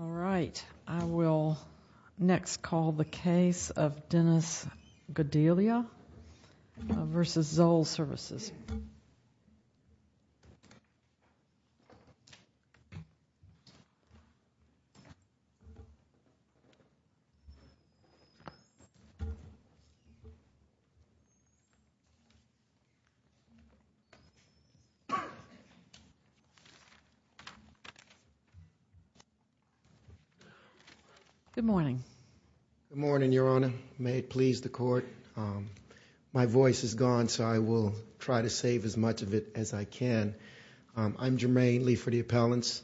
All right. I will next call the case of Dennis Godelia v. ZOLL Services. Please. Good morning. Good morning, Your Honor. May it please the court. My voice is gone, so I will try to save as much of it as I can. I'm Jermaine Lee for the appellants,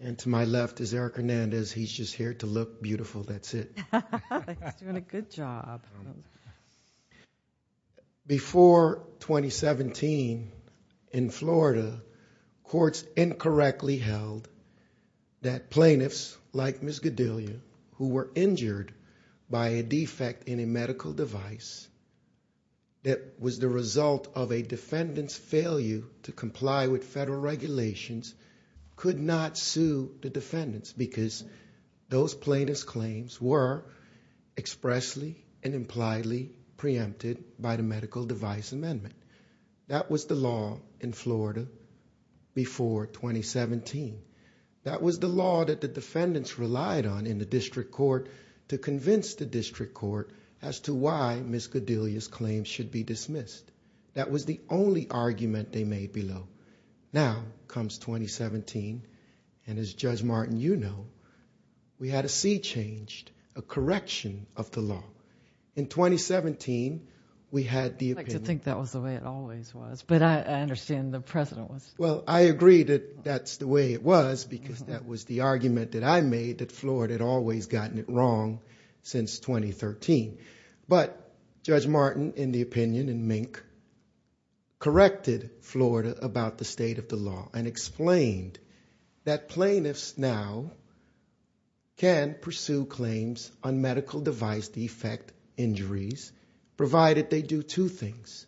and to my left is Eric Hernandez. He's just here to look beautiful. That's it. He's doing a good job. Before 2017 in Florida, courts incorrectly held that plaintiffs like Ms. Godelia who were injured by a defect in a medical device that was the result of a defendant's failure to comply with federal regulations could not sue the defendants because those plaintiff's claims were expressly and impliedly preempted by the medical device amendment. That was the law in Florida before 2017. That was the law that the defendants relied on in the district court to convince the district court as to why Ms. Godelia's claims should be dismissed. That was the only argument they made below. Now comes 2017, and as Judge Martin, you know, we had a sea changed, a correction of the law. In 2017, we had the opinion. I'd like to think that was the way it always was, but I understand the President was. Well, I agree that that's the way it was because that was the argument that I made that Florida had always gotten it wrong since 2013. But Judge Martin, in the opinion and Mink, corrected Florida about the state of the law and explained that plaintiffs now can pursue claims on medical device defect injuries provided they do two things.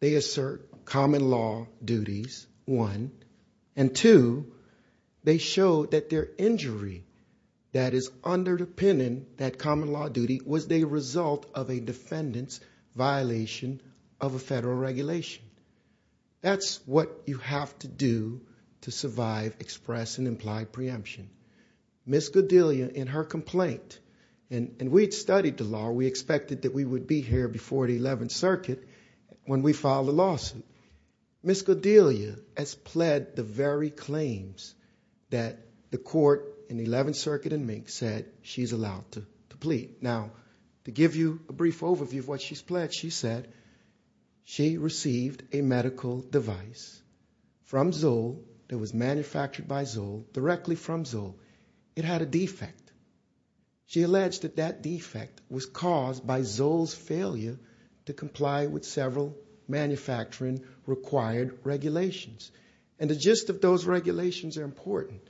They assert common law duties, one, and two, they show that their injury that is under the pennant, that common law duty, was the result of a defendant's violation of a federal regulation. That's what you have to do to survive, express, and imply preemption. Ms. Godelia, in her complaint, and we'd studied the law. We expected that we would be here before the 11th Circuit when we filed a lawsuit. Ms. Godelia has pled the very claims that the court in the 11th Circuit and Mink said she's allowed to plead. Now, to give you a brief overview of what she's pled, she said she received a medical device from Zoll that was manufactured by Zoll, directly from Zoll. It had a defect. She alleged that that defect was caused by Zoll's failure to comply with several manufacturing required regulations. And the gist of those regulations are important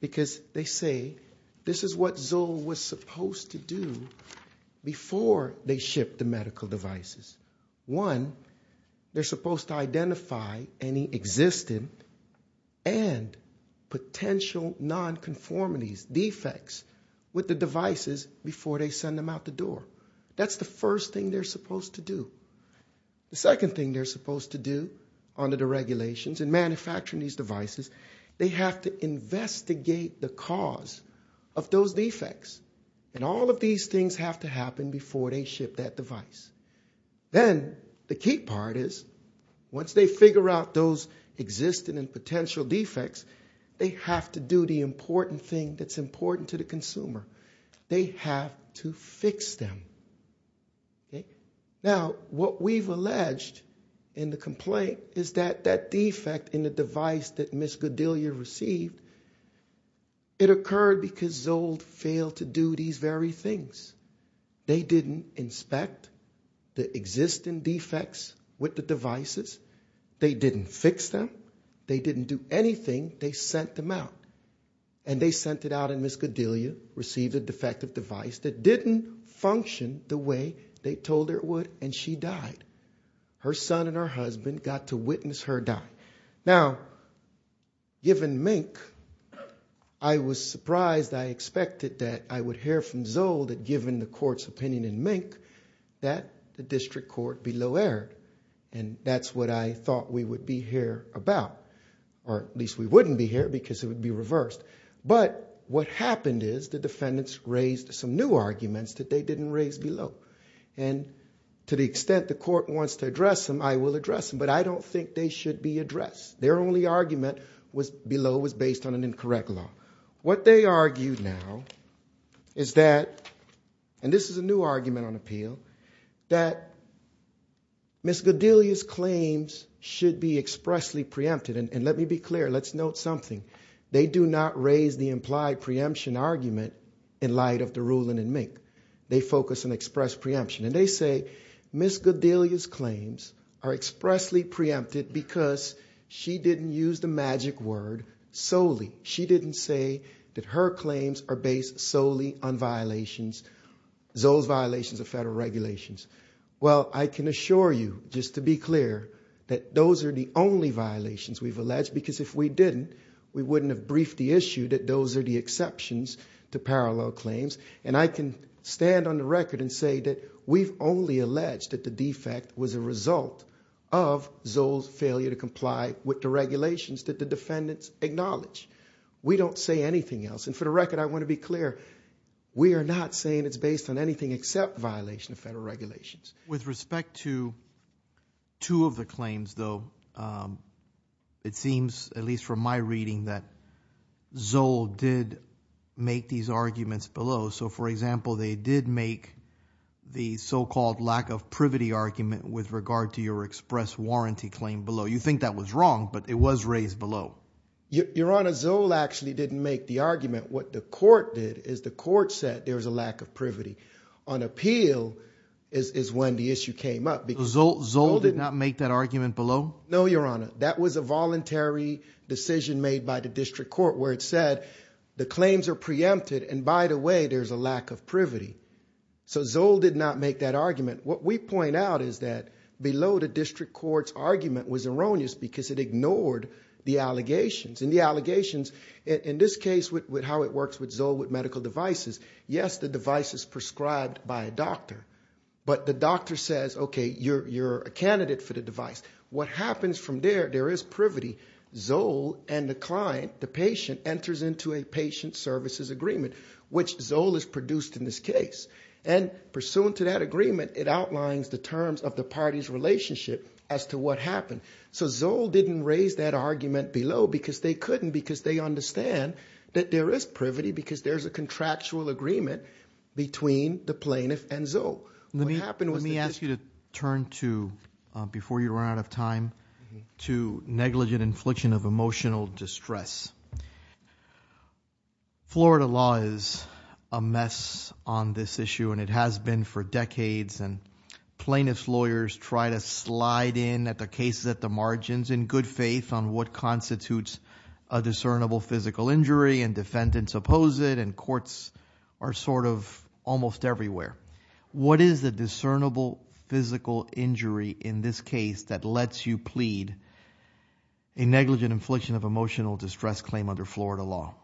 because they say this is what Zoll was supposed to do before they shipped the medical devices. One, they're supposed to identify any existing and potential nonconformities, defects, with the devices before they send them out the door. That's the first thing they're supposed to do. The second thing they're supposed to do under the regulations in manufacturing these devices, they have to investigate the cause of those defects. And all of these things have to happen before they ship that device. Then, the key part is, once they figure out those existing and potential defects, they have to do the important thing that's important to the consumer. They have to fix them. Now, what we've alleged in the complaint is that that defect in the device that Ms. Godelia received, it occurred because Zoll failed to do these very things. They didn't inspect the existing defects with the devices. They didn't fix them. They didn't do anything. They sent them out. And they sent it out and Ms. Godelia received a defective device that didn't function the way they told her it would and she died. Her son and her husband got to witness her die. Now, given Mink, I was surprised, I expected that I would hear from Zoll that given the court's opinion in Mink that the district court be low-erred. And that's what I thought we would be here about. Or at least we wouldn't be here because it would be reversed. But what happened is the defendants raised some new arguments that they didn't raise below. And to the extent the court wants to address them, I will address them. But I don't think they should be addressed. Their only argument below was based on an incorrect law. What they argue now is that, and this is a new argument on appeal, that Ms. Godelia's claims should be expressly preempted and let me be clear, let's note something. They do not raise the implied preemption argument in light of the ruling in Mink. They focus on express preemption. And they say Ms. Godelia's claims are expressly preempted because she didn't use the magic word solely. She didn't say that her claims are based solely on violations, Zoll's violations of federal regulations. Well, I can assure you, just to be clear, that those are the only violations we've alleged because if we didn't, we wouldn't have briefed the issue that those are the exceptions to parallel claims. And I can stand on the record and say that we've only alleged that the defect was a result of Zoll's failure to comply with the regulations that the defendants acknowledge. We don't say anything else. And for the record, I want to be clear, we are not saying it's based on anything except violation of federal regulations. With respect to two of the claims, though, it seems, at least from my reading, that Zoll did make these arguments below. So, for example, they did make the so-called lack of privity argument with regard to your express warranty claim below. You think that was wrong, but it was raised below. Your Honor, Zoll actually didn't make the argument. What the court did is the court said there was a lack of privity. On appeal is when the issue came up. So Zoll did not make that argument below? No, Your Honor. That was a voluntary decision made by the district court where it said the claims are preempted and, by the way, there's a lack of privity. So Zoll did not make that argument. What we point out is that below the district court's argument was erroneous because it ignored the allegations. And the allegations, in this case, with how it works with Zoll with medical devices, yes, the device is prescribed by a doctor, but the doctor says, okay, you're a candidate for the device. What happens from there, there is privity. Zoll and the client, the patient, enters into a patient services agreement, which Zoll has produced in this case. And pursuant to that agreement, it outlines the terms of the party's relationship as to what happened. So Zoll didn't raise that argument below because they couldn't because they understand that there is privity because there's a contractual agreement between the plaintiff and Zoll. Let me ask you to turn to, before you run out of time, to negligent infliction of emotional distress. Florida law is a mess on this issue, and it has been for decades. And plaintiff's lawyers try to slide in at the cases at the margins in good faith on what constitutes a discernible physical injury, and defendants oppose it, and courts are sort of almost everywhere. What is the discernible physical injury in this case that lets you plead a negligent infliction of emotional distress claim under Florida law?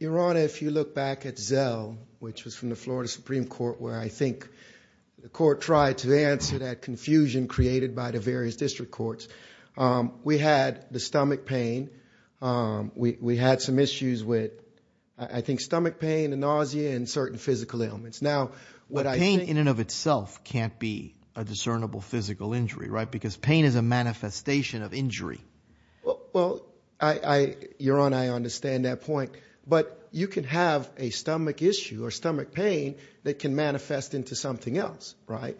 Your Honor, if you look back at Zoll, which was from the Florida Supreme Court, where I think the court tried to answer that confusion created by the various district courts, we had the stomach pain. We had some issues with, I think, stomach pain and nausea and certain physical ailments. Now, what I think... But pain in and of itself can't be a discernible physical injury, right? Because pain is a manifestation of injury. Well, Your Honor, I understand that point. But you can have a stomach issue or stomach pain that can manifest into something else, right?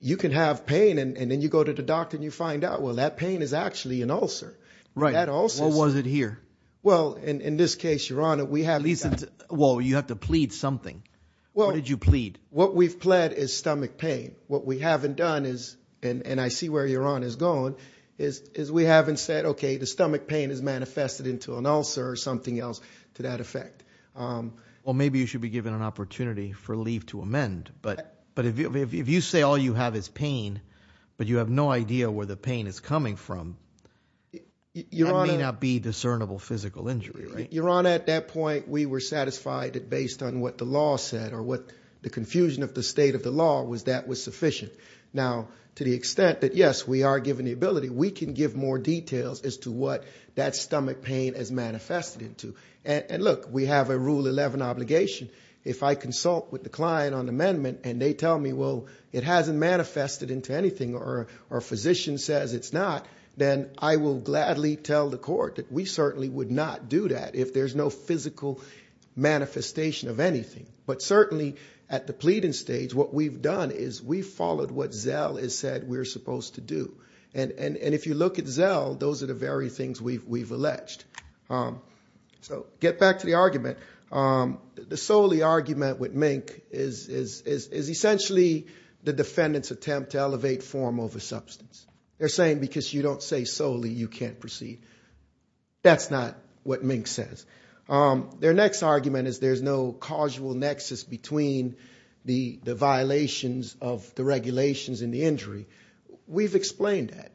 You can have pain, and then you go to the doctor and you find out, well, that pain is actually an ulcer. Right. That ulcer is... What was it here? Well, in this case, Your Honor, we have... Well, you have to plead something. What did you plead? What we've pled is stomach pain. What we haven't done is, and I see where Your Honor is going, is we haven't said, okay, the stomach pain has manifested into an ulcer or something else to that effect. Well, maybe you should be given an opportunity for leave to amend. But if you say all you have is pain, but you have no idea where the pain is coming from, that may not be discernible physical injury, right? Your Honor, at that point, we were satisfied that based on what the law said or what the confusion of the state of the law was, that was sufficient. Now, to the extent that, yes, we are given the ability, we can give more details as to what that stomach pain has manifested into. And look, we have a Rule 11 obligation. If I consult with the client on amendment and they tell me, well, it hasn't manifested into anything or a physician says it's not, then I will gladly tell the court that we certainly would not do that if there's no physical manifestation of anything. But certainly, at the pleading stage, what we've done is we followed what Zell has said that we're supposed to do. And if you look at Zell, those are the very things we've alleged. So get back to the argument. The solely argument with Mink is essentially the defendant's attempt to elevate form over substance. They're saying because you don't say solely, you can't proceed. That's not what Mink says. Their next argument is there's no causal nexus between the violations of the regulations and the injury. We've explained that.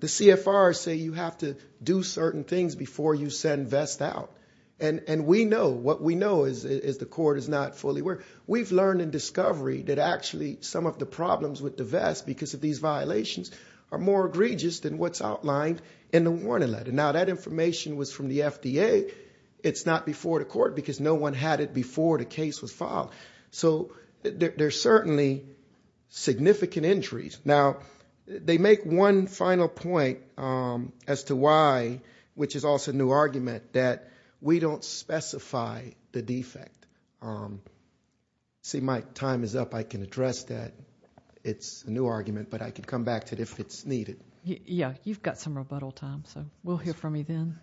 The CFRs say you have to do certain things before you send Vest out. And we know, what we know is the court is not fully aware. We've learned in discovery that actually some of the problems with the Vest, because of these violations, are more egregious than what's outlined in the warning letter. Now that information was from the FDA. It's not before the court because no one had it before the case was filed. So there's certainly significant injuries. Now, they make one final point as to why, which is also a new argument, that we don't specify the defect. See, my time is up. I can address that. It's a new argument, but I could come back to it if it's needed. Yeah. You've got some rebuttal time, so we'll hear from you then.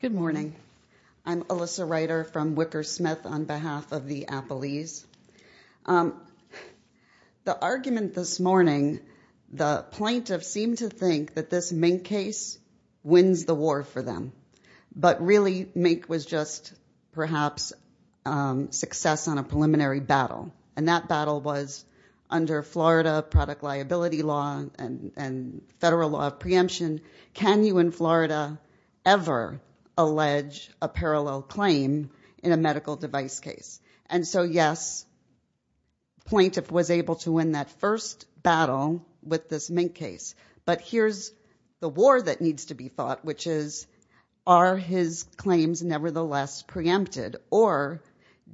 Good morning. I'm Alyssa Ryder from Wicker Smith on behalf of the Appalese. The argument this morning, the plaintiff seemed to think that this Mink case wins the war for them. But really, Mink was just perhaps success on a preliminary battle. And that battle was under Florida product liability law and federal law of preemption. Can you in Florida ever allege a parallel claim in a medical device case? And so yes, the plaintiff was able to win that first battle with this Mink case. But here's the war that needs to be fought, which is, are his claims nevertheless preempted? Or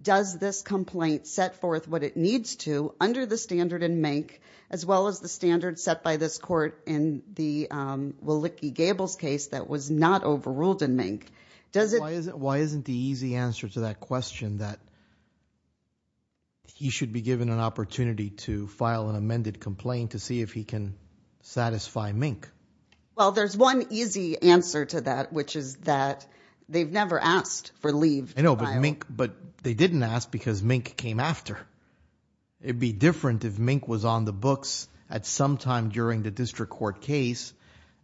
does this complaint set forth what it needs to under the standard in Mink, as well as the standard set by this court in the Willicke Gables case that was not overruled in Mink? Why isn't the easy answer to that question that he should be given an opportunity to file an amended complaint to see if he can satisfy Mink? Well, there's one easy answer to that, which is that they've never asked for leave. But they didn't ask because Mink came after. It'd be different if Mink was on the books at some time during the district court case,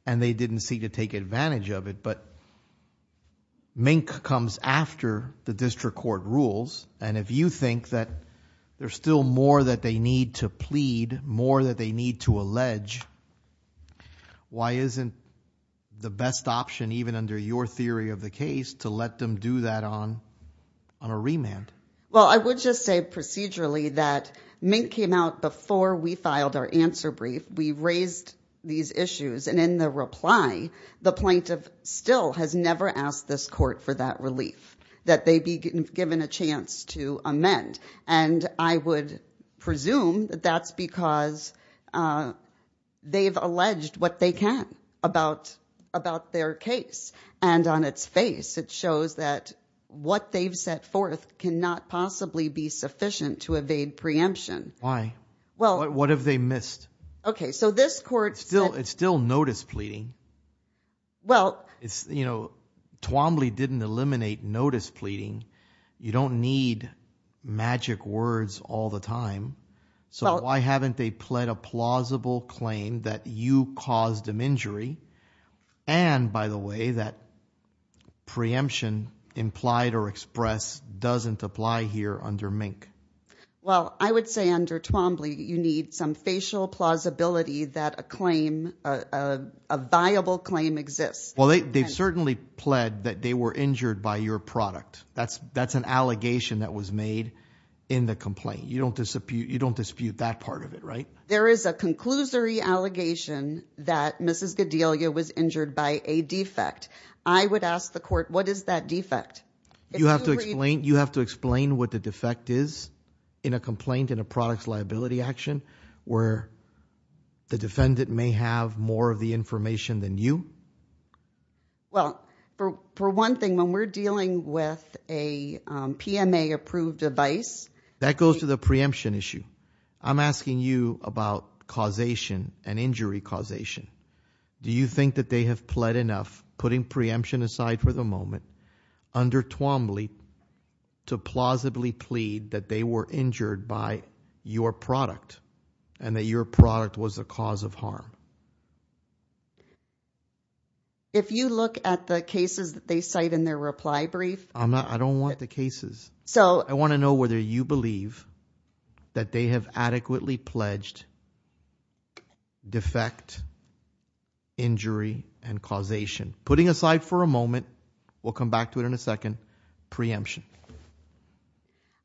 and they didn't see to take advantage of it. But Mink comes after the district court rules. And if you think that there's still more that they need to plead, more that they need to allege, why isn't the best option, even under your theory of the case, to let them do that on a remand? Well, I would just say procedurally that Mink came out before we filed our answer brief. We raised these issues. And in the reply, the plaintiff still has never asked this court for that relief, that they be given a chance to amend. And I would presume that that's because they've alleged what they can about their case. And on its face, it shows that what they've set forth cannot possibly be sufficient to evade preemption. Why? What have they missed? Okay, so this court... It's still notice pleading. Twombly didn't eliminate notice pleading. You don't need magic words all the time. So why haven't they pled a plausible claim that you caused them injury? And by the way, that preemption implied or expressed doesn't apply here under Mink. Well, I would say under Twombly, you need some facial plausibility that a claim, a viable claim exists. Well, they've certainly pled that they were injured by your product. That's an allegation that was made in the complaint. You don't dispute that part of it, right? There is a conclusory allegation that Mrs. Gedelia was injured by a defect. I would ask the court, what is that defect? You have to explain what the defect is in a complaint, in a product's liability action, where the defendant may have more of the information than you? Well, for one thing, when we're dealing with a PMA-approved device... That goes to the preemption issue. I'm asking you about causation and injury causation. Do you think that they have pled enough, putting preemption aside for the moment, under Twombly to plausibly plead that they were injured by your product and that your product was a cause of harm? If you look at the cases that they cite in their reply brief... I don't want the cases. I want to know whether you believe that they have adequately pledged defect, injury, and causation. Putting aside for a moment, we'll come back to it in a second, preemption.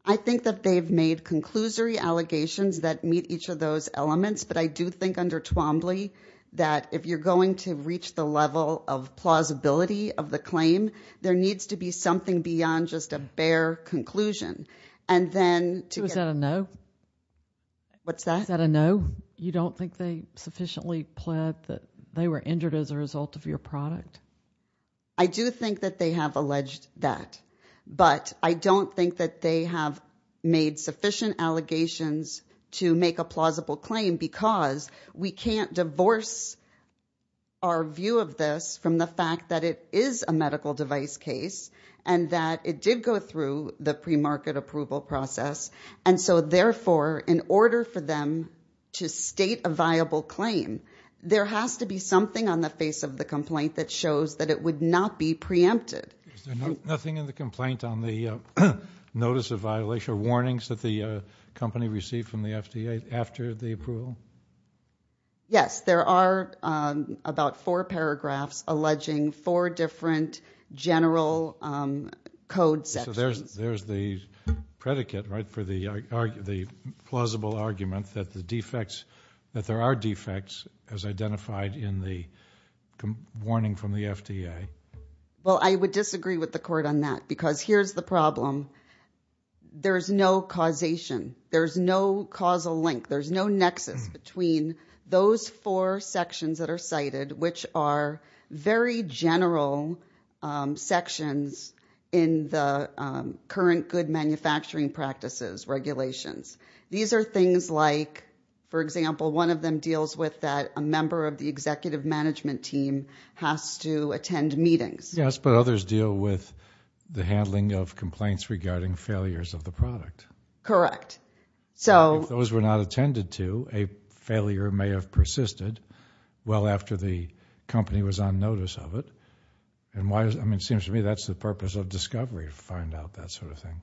I think that they've made conclusory allegations that meet each of those elements, but I do think under Twombly, that if you're going to reach the level of plausibility of the claim, there needs to be something beyond just a bare conclusion. And then... So is that a no? What's that? Is that a no? You don't think they sufficiently pled that they were injured as a result of your product? I do think that they have alleged that, but I don't think that they have made sufficient allegations to make a plausible claim because we can't divorce our view of this from the fact that it is a medical device case and that it did go through the pre-market approval process. And so therefore, in order for them to state a viable claim, there has to be something on the face of the complaint that shows that it would not be preempted. Is there nothing in the complaint on the notice of violation or warnings that the company received from the FDA after the approval? Yes, there are about four paragraphs alleging four different general code sections. There's the predicate, right, for the plausible argument that the defects, that there are Well, I would disagree with the court on that because here's the problem. There's no causation. There's no causal link. There's no nexus between those four sections that are cited, which are very general sections in the current good manufacturing practices regulations. These are things like, for example, one of them deals with that a member of the executive management team has to attend meetings. Yes, but others deal with the handling of complaints regarding failures of the product. Correct. So if those were not attended to, a failure may have persisted well after the company was on notice of it. And why, I mean, it seems to me that's the purpose of discovery to find out that sort of thing.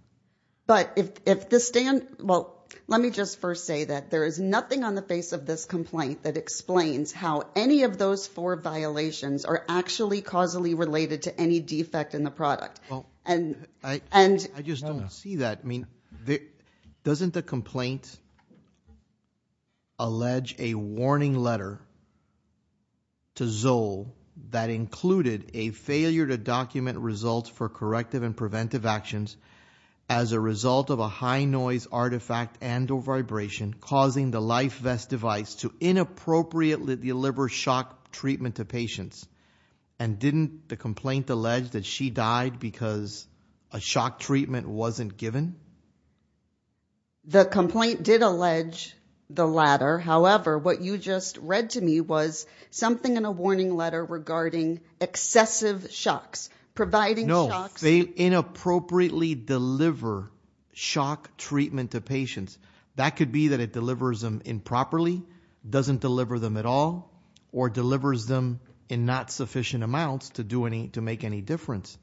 But if the stand, well, let me just first say that there is nothing on the face of this that says that those four violations are actually causally related to any defect in the product. Well, I just don't see that. I mean, doesn't the complaint allege a warning letter to Zol that included a failure to document results for corrective and preventive actions as a result of a high noise artifact and or vibration causing the life vest device to inappropriately deliver shock treatment to patients? And didn't the complaint allege that she died because a shock treatment wasn't given? The complaint did allege the latter. However, what you just read to me was something in a warning letter regarding excessive shocks, providing shocks. No, they inappropriately deliver shock treatment to patients. That could be that it delivers them improperly, doesn't deliver them at all, or delivers them in not sufficient amounts to do any, to make any difference.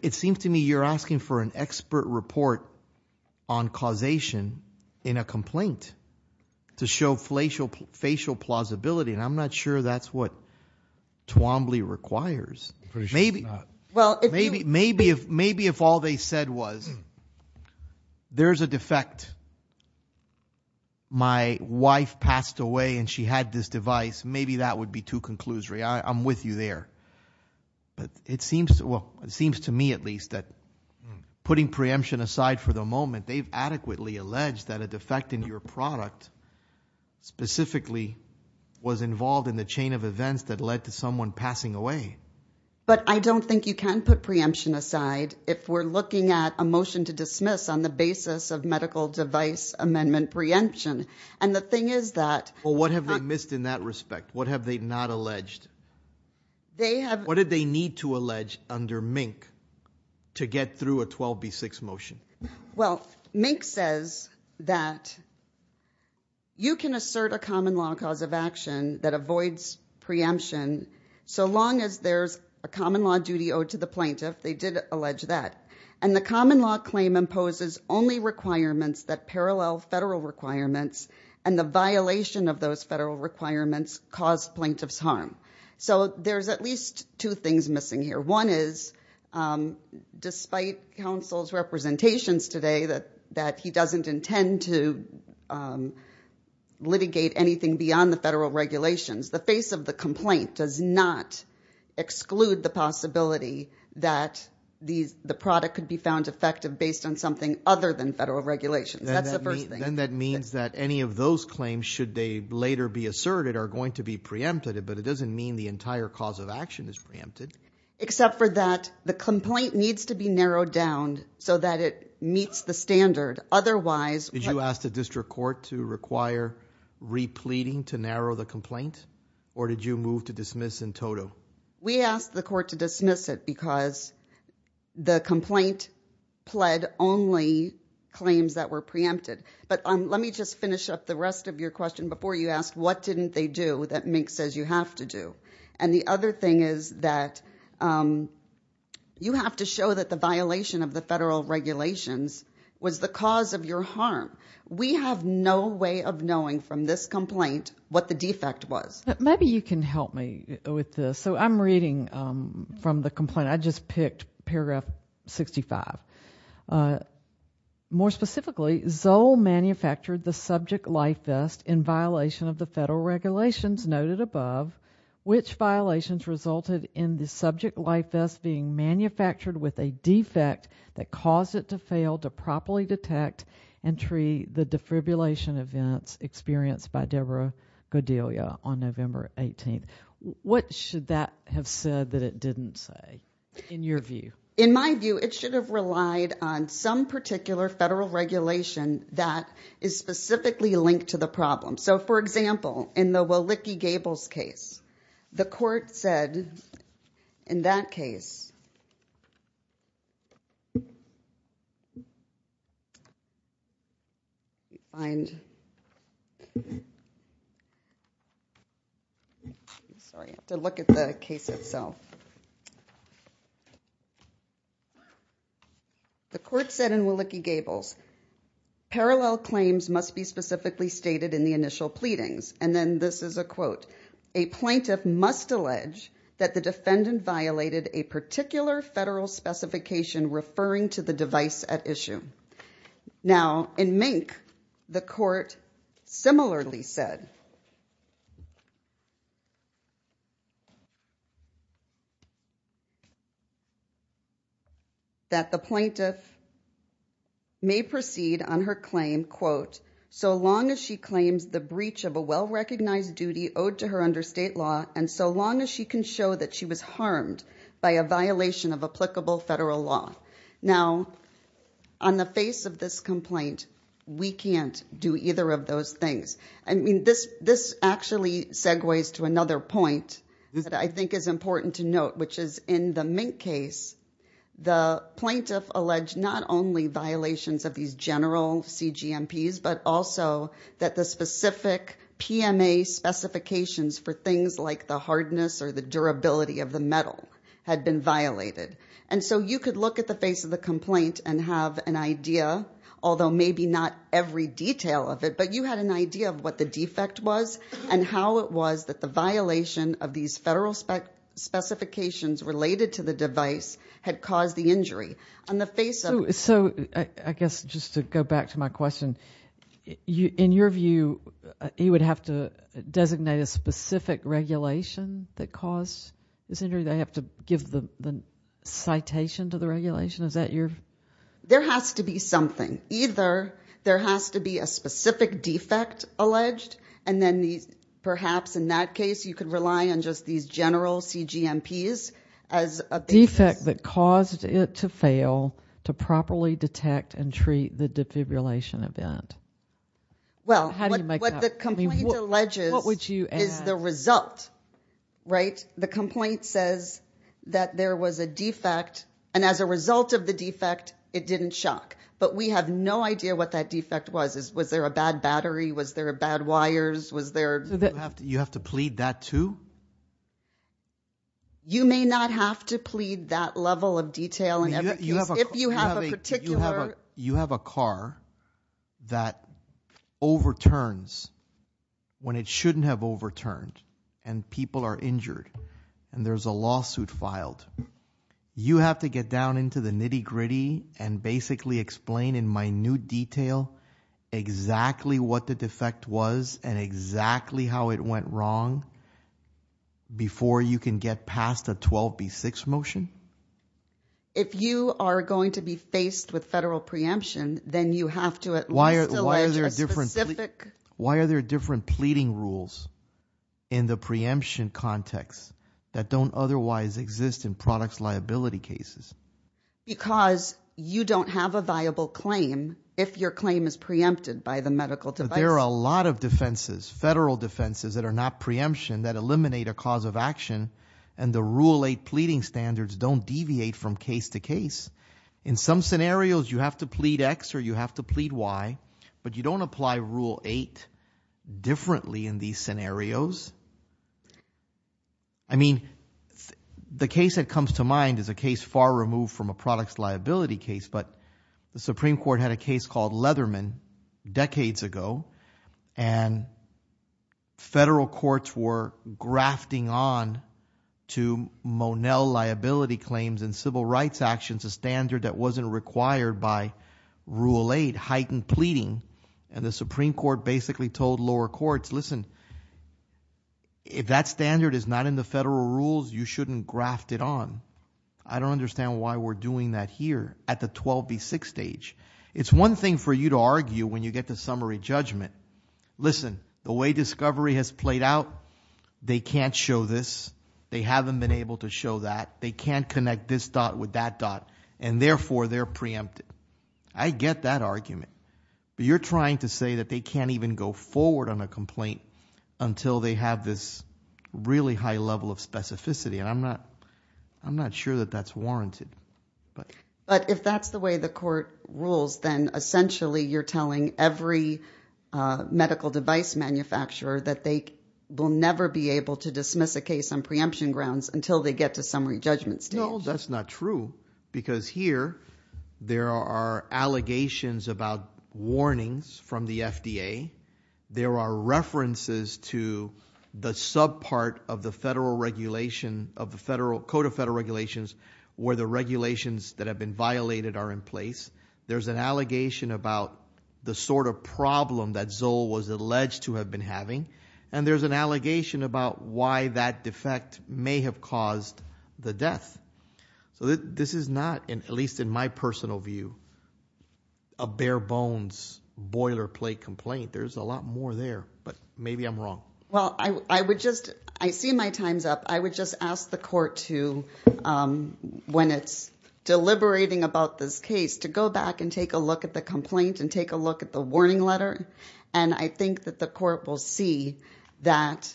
It seems to me you're asking for an expert report on causation in a complaint to show facial plausibility. And I'm not sure that's what Twombly requires. I'm pretty sure it's not. Maybe if all they said was, there's a defect. My wife passed away and she had this device. Maybe that would be too conclusory. I'm with you there. But it seems to me at least that putting preemption aside for the moment, they've adequately alleged that a defect in your product specifically was involved in the chain of events that led to someone passing away. But I don't think you can put preemption aside if we're looking at a motion to dismiss on the basis of medical device amendment preemption. And the thing is that... Well, what have they missed in that respect? What have they not alleged? They have... What did they need to allege under Mink to get through a 12B6 motion? Well, Mink says that you can assert a common law cause of action that avoids preemption so long as there's a common law duty owed to the plaintiff. They did allege that. And the common law claim imposes only requirements that parallel federal requirements. And the violation of those federal requirements caused plaintiff's harm. So there's at least two things missing here. One is, despite counsel's representations today that he doesn't intend to litigate anything beyond the federal regulations. The face of the complaint does not exclude the possibility that the product could be found effective based on something other than federal regulations. That's the first thing. Then that means that any of those claims, should they later be asserted, are going to be preempted. But it doesn't mean the entire cause of action is preempted. Except for that the complaint needs to be narrowed down so that it meets the standard. Otherwise... Did you ask the district court to require re-pleading to narrow the complaint? Or did you move to dismiss in toto? We asked the court to dismiss it because the complaint pled only claims that were preempted. But let me just finish up the rest of your question before you ask, what didn't they do that Mink says you have to do? And the other thing is that you have to show that the violation of the federal regulations was the cause of your harm. We have no way of knowing from this complaint what the defect was. Maybe you can help me with this. So I'm reading from the complaint. I just picked paragraph 65. More specifically, Zoll manufactured the subject life vest in violation of the federal regulations noted above, which violations resulted in the subject life vest being manufactured with a defect that caused it to fail to properly detect and treat the defibrillation events experienced by Deborah Godelia on November 18th. What should that have said that it didn't say in your view? In my view, it should have relied on some particular federal regulation that is specifically linked to the problem. So for example, in the Wilicki-Gables case, the court said in that case, sorry, I have to look at the case itself. The court said in Wilicki-Gables, parallel claims must be specifically stated in the initial pleadings. And then this is a quote, a plaintiff must allege that the defendant violated a particular federal specification referring to the device at issue. Now in Mink, the court similarly said that the plaintiff may proceed on her claim, quote, so long as she claims the breach of a well-recognized duty owed to her under state law, and so long as she can show that she was harmed by a violation of applicable federal law. Now on the face of this complaint, we can't do either of those things. I mean, this actually segues to another point that I think is important to note, which is in the Mink case, the plaintiff alleged not only violations of these general CGMPs, but also that the specific PMA specifications for things like the hardness or the durability of the metal had been violated. And so you could look at the face of the complaint and have an idea, although maybe not every detail of it, but you had an idea of what the defect was and how it was that the violation of these federal specifications related to the device had caused the injury. On the face of it. So I guess just to go back to my question, in your view, you would have to designate a specific regulation that caused this injury? They have to give the citation to the regulation? Is that your... There has to be something. Either there has to be a specific defect alleged, and then perhaps in that case, you could rely on just these general CGMPs as a... Defect that caused it to fail to properly detect and treat the defibrillation event. Well, what the complaint alleges... What would you add? The result, right? The complaint says that there was a defect, and as a result of the defect, it didn't shock. But we have no idea what that defect was. Was there a bad battery? Was there a bad wires? Was there... You have to plead that too? You may not have to plead that level of detail in every case. If you have a particular... When it shouldn't have overturned, and people are injured, and there's a lawsuit filed, you have to get down into the nitty gritty and basically explain in minute detail exactly what the defect was and exactly how it went wrong before you can get past a 12B6 motion? If you are going to be faced with federal preemption, then you have to at least... Why is there a difference? Why are there different pleading rules in the preemption context that don't otherwise exist in products liability cases? Because you don't have a viable claim if your claim is preempted by the medical device. But there are a lot of defenses, federal defenses that are not preemption that eliminate a cause of action, and the Rule 8 pleading standards don't deviate from case to case. In some scenarios, you have to plead X or you have to plead Y, but you don't apply Rule 8 differently in these scenarios. I mean, the case that comes to mind is a case far removed from a products liability case, but the Supreme Court had a case called Leatherman decades ago, and federal courts were grafting on to Monell liability claims and civil rights actions, a standard that wasn't required by Rule 8, heightened pleading, and the Supreme Court basically told lower courts, listen, if that standard is not in the federal rules, you shouldn't graft it on. I don't understand why we're doing that here at the 12B6 stage. It's one thing for you to argue when you get to summary judgment. Listen, the way discovery has played out, they can't show this. They haven't been able to show that. They can't connect this dot with that dot, and therefore, they're preempted. I get that argument, but you're trying to say that they can't even go forward on a complaint until they have this really high level of specificity, and I'm not sure that that's warranted. But if that's the way the court rules, then essentially, you're telling every medical device manufacturer that they will never be able to dismiss a case on preemption grounds until they get to summary judgment stage. That's not true, because here, there are allegations about warnings from the FDA. There are references to the subpart of the federal regulation of the federal, Code of Federal Regulations, where the regulations that have been violated are in place. There's an allegation about the sort of problem that Zoll was alleged to have been having, and there's an allegation about why that defect may have caused the death. So this is not, at least in my personal view, a bare bones, boilerplate complaint. There's a lot more there, but maybe I'm wrong. Well, I would just, I see my time's up. I would just ask the court to, when it's deliberating about this case, to go back and take a look at the complaint and take a look at the warning letter, and I think that the court will see that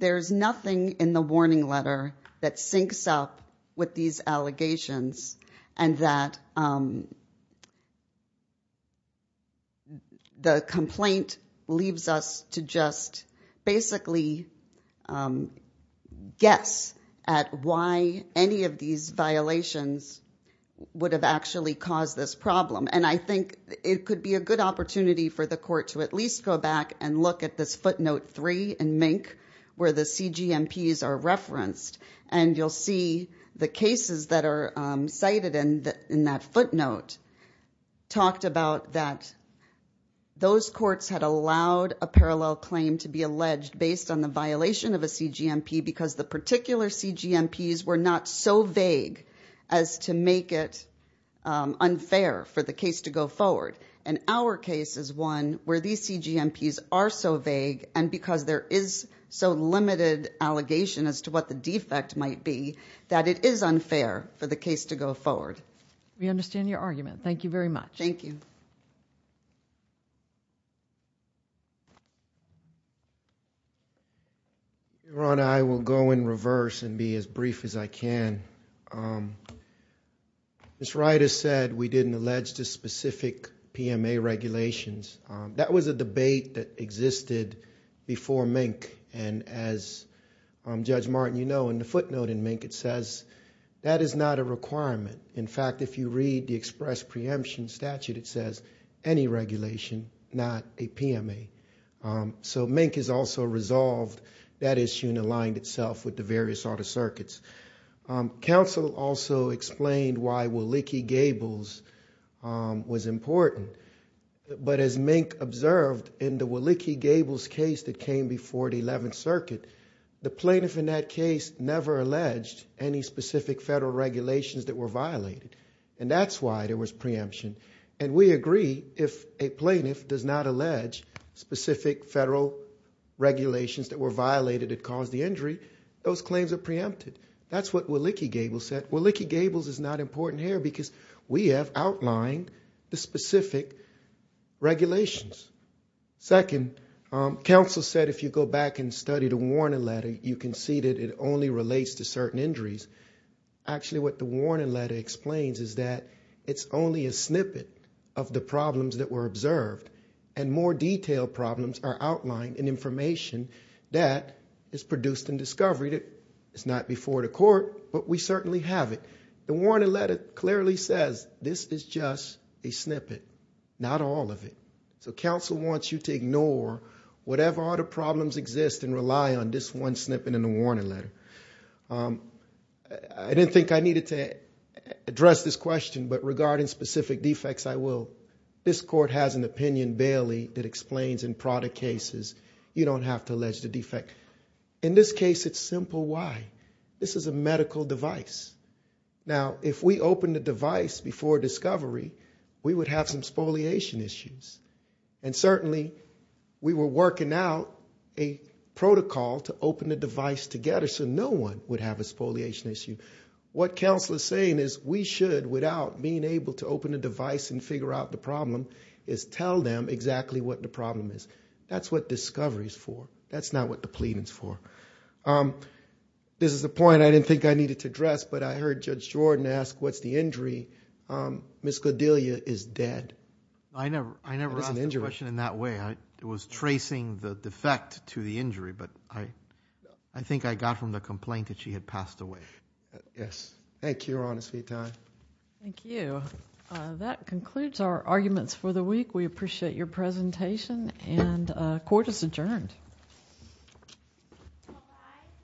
there's nothing in the warning letter that syncs up with these allegations, and that the complaint leaves us to just basically guess at why any of these violations would have actually caused this problem. And I think it could be a good opportunity for the court to at least go back and look at this footnote three in Mink, where the CGMPs are referenced, and you'll see the cases that are cited in that footnote talked about that those courts had allowed a parallel claim to be alleged based on the violation of a CGMP because the particular CGMPs were not so vague as to make it unfair for the case to go forward. And our case is one where these CGMPs are so vague, and because there is so limited allegation as to what the defect might be, that it is unfair for the case to go forward. We understand your argument. Thank you very much. Thank you. Your Honor, I will go in reverse and be as brief as I can. Ms. Reiter said we didn't allege the specific PMA regulations. That was a debate that existed before Mink. And as Judge Martin, you know, in the footnote in Mink, it says that is not a requirement. In fact, if you read the express preemption statute, it says any regulation, not a PMA. So Mink has also resolved that issue and aligned itself with the various other circuits. Counsel also explained why Willicke-Gables was important. But as Mink observed in the Willicke-Gables case that came before the 11th Circuit, the plaintiff in that case never alleged any specific federal regulations that were violated. And that's why there was preemption. And we agree if a plaintiff does not allege specific federal regulations that were violated that caused the injury, those claims are preempted. That's what Willicke-Gables said. Willicke-Gables is not important here because we have outlined the specific regulations. Second, counsel said if you go back and study the warning letter, you can see that it only relates to certain injuries. Actually, what the warning letter explains is that it's only a snippet of the problems that were observed and more detailed problems are outlined in information that is produced in discovery that is not before the court, but we certainly have it. The warning letter clearly says this is just a snippet, not all of it. So counsel wants you to ignore whatever other problems exist and rely on this one snippet in the warning letter. I didn't think I needed to address this question, but regarding specific defects, I will. This court has an opinion, Bailey, that explains in product cases, you don't have to allege the defect. In this case, it's simple why. This is a medical device. Now, if we open the device before discovery, we would have some spoliation issues. And certainly, we were working out a protocol to open the device together so no one would have a spoliation issue. What counsel is saying is we should, without being able to open the device and figure out the problem, is tell them exactly what the problem is. That's what discovery is for. That's not what the plea is for. This is a point I didn't think I needed to address, but I heard Judge Jordan ask, what's the injury? Ms. Godelia is dead. I never asked the question in that way. I was tracing the defect to the injury, but I think I got from the complaint that she had passed away. Yes. Sweet time. Thank you. That concludes our arguments for the week. We appreciate your presentation. And court is adjourned.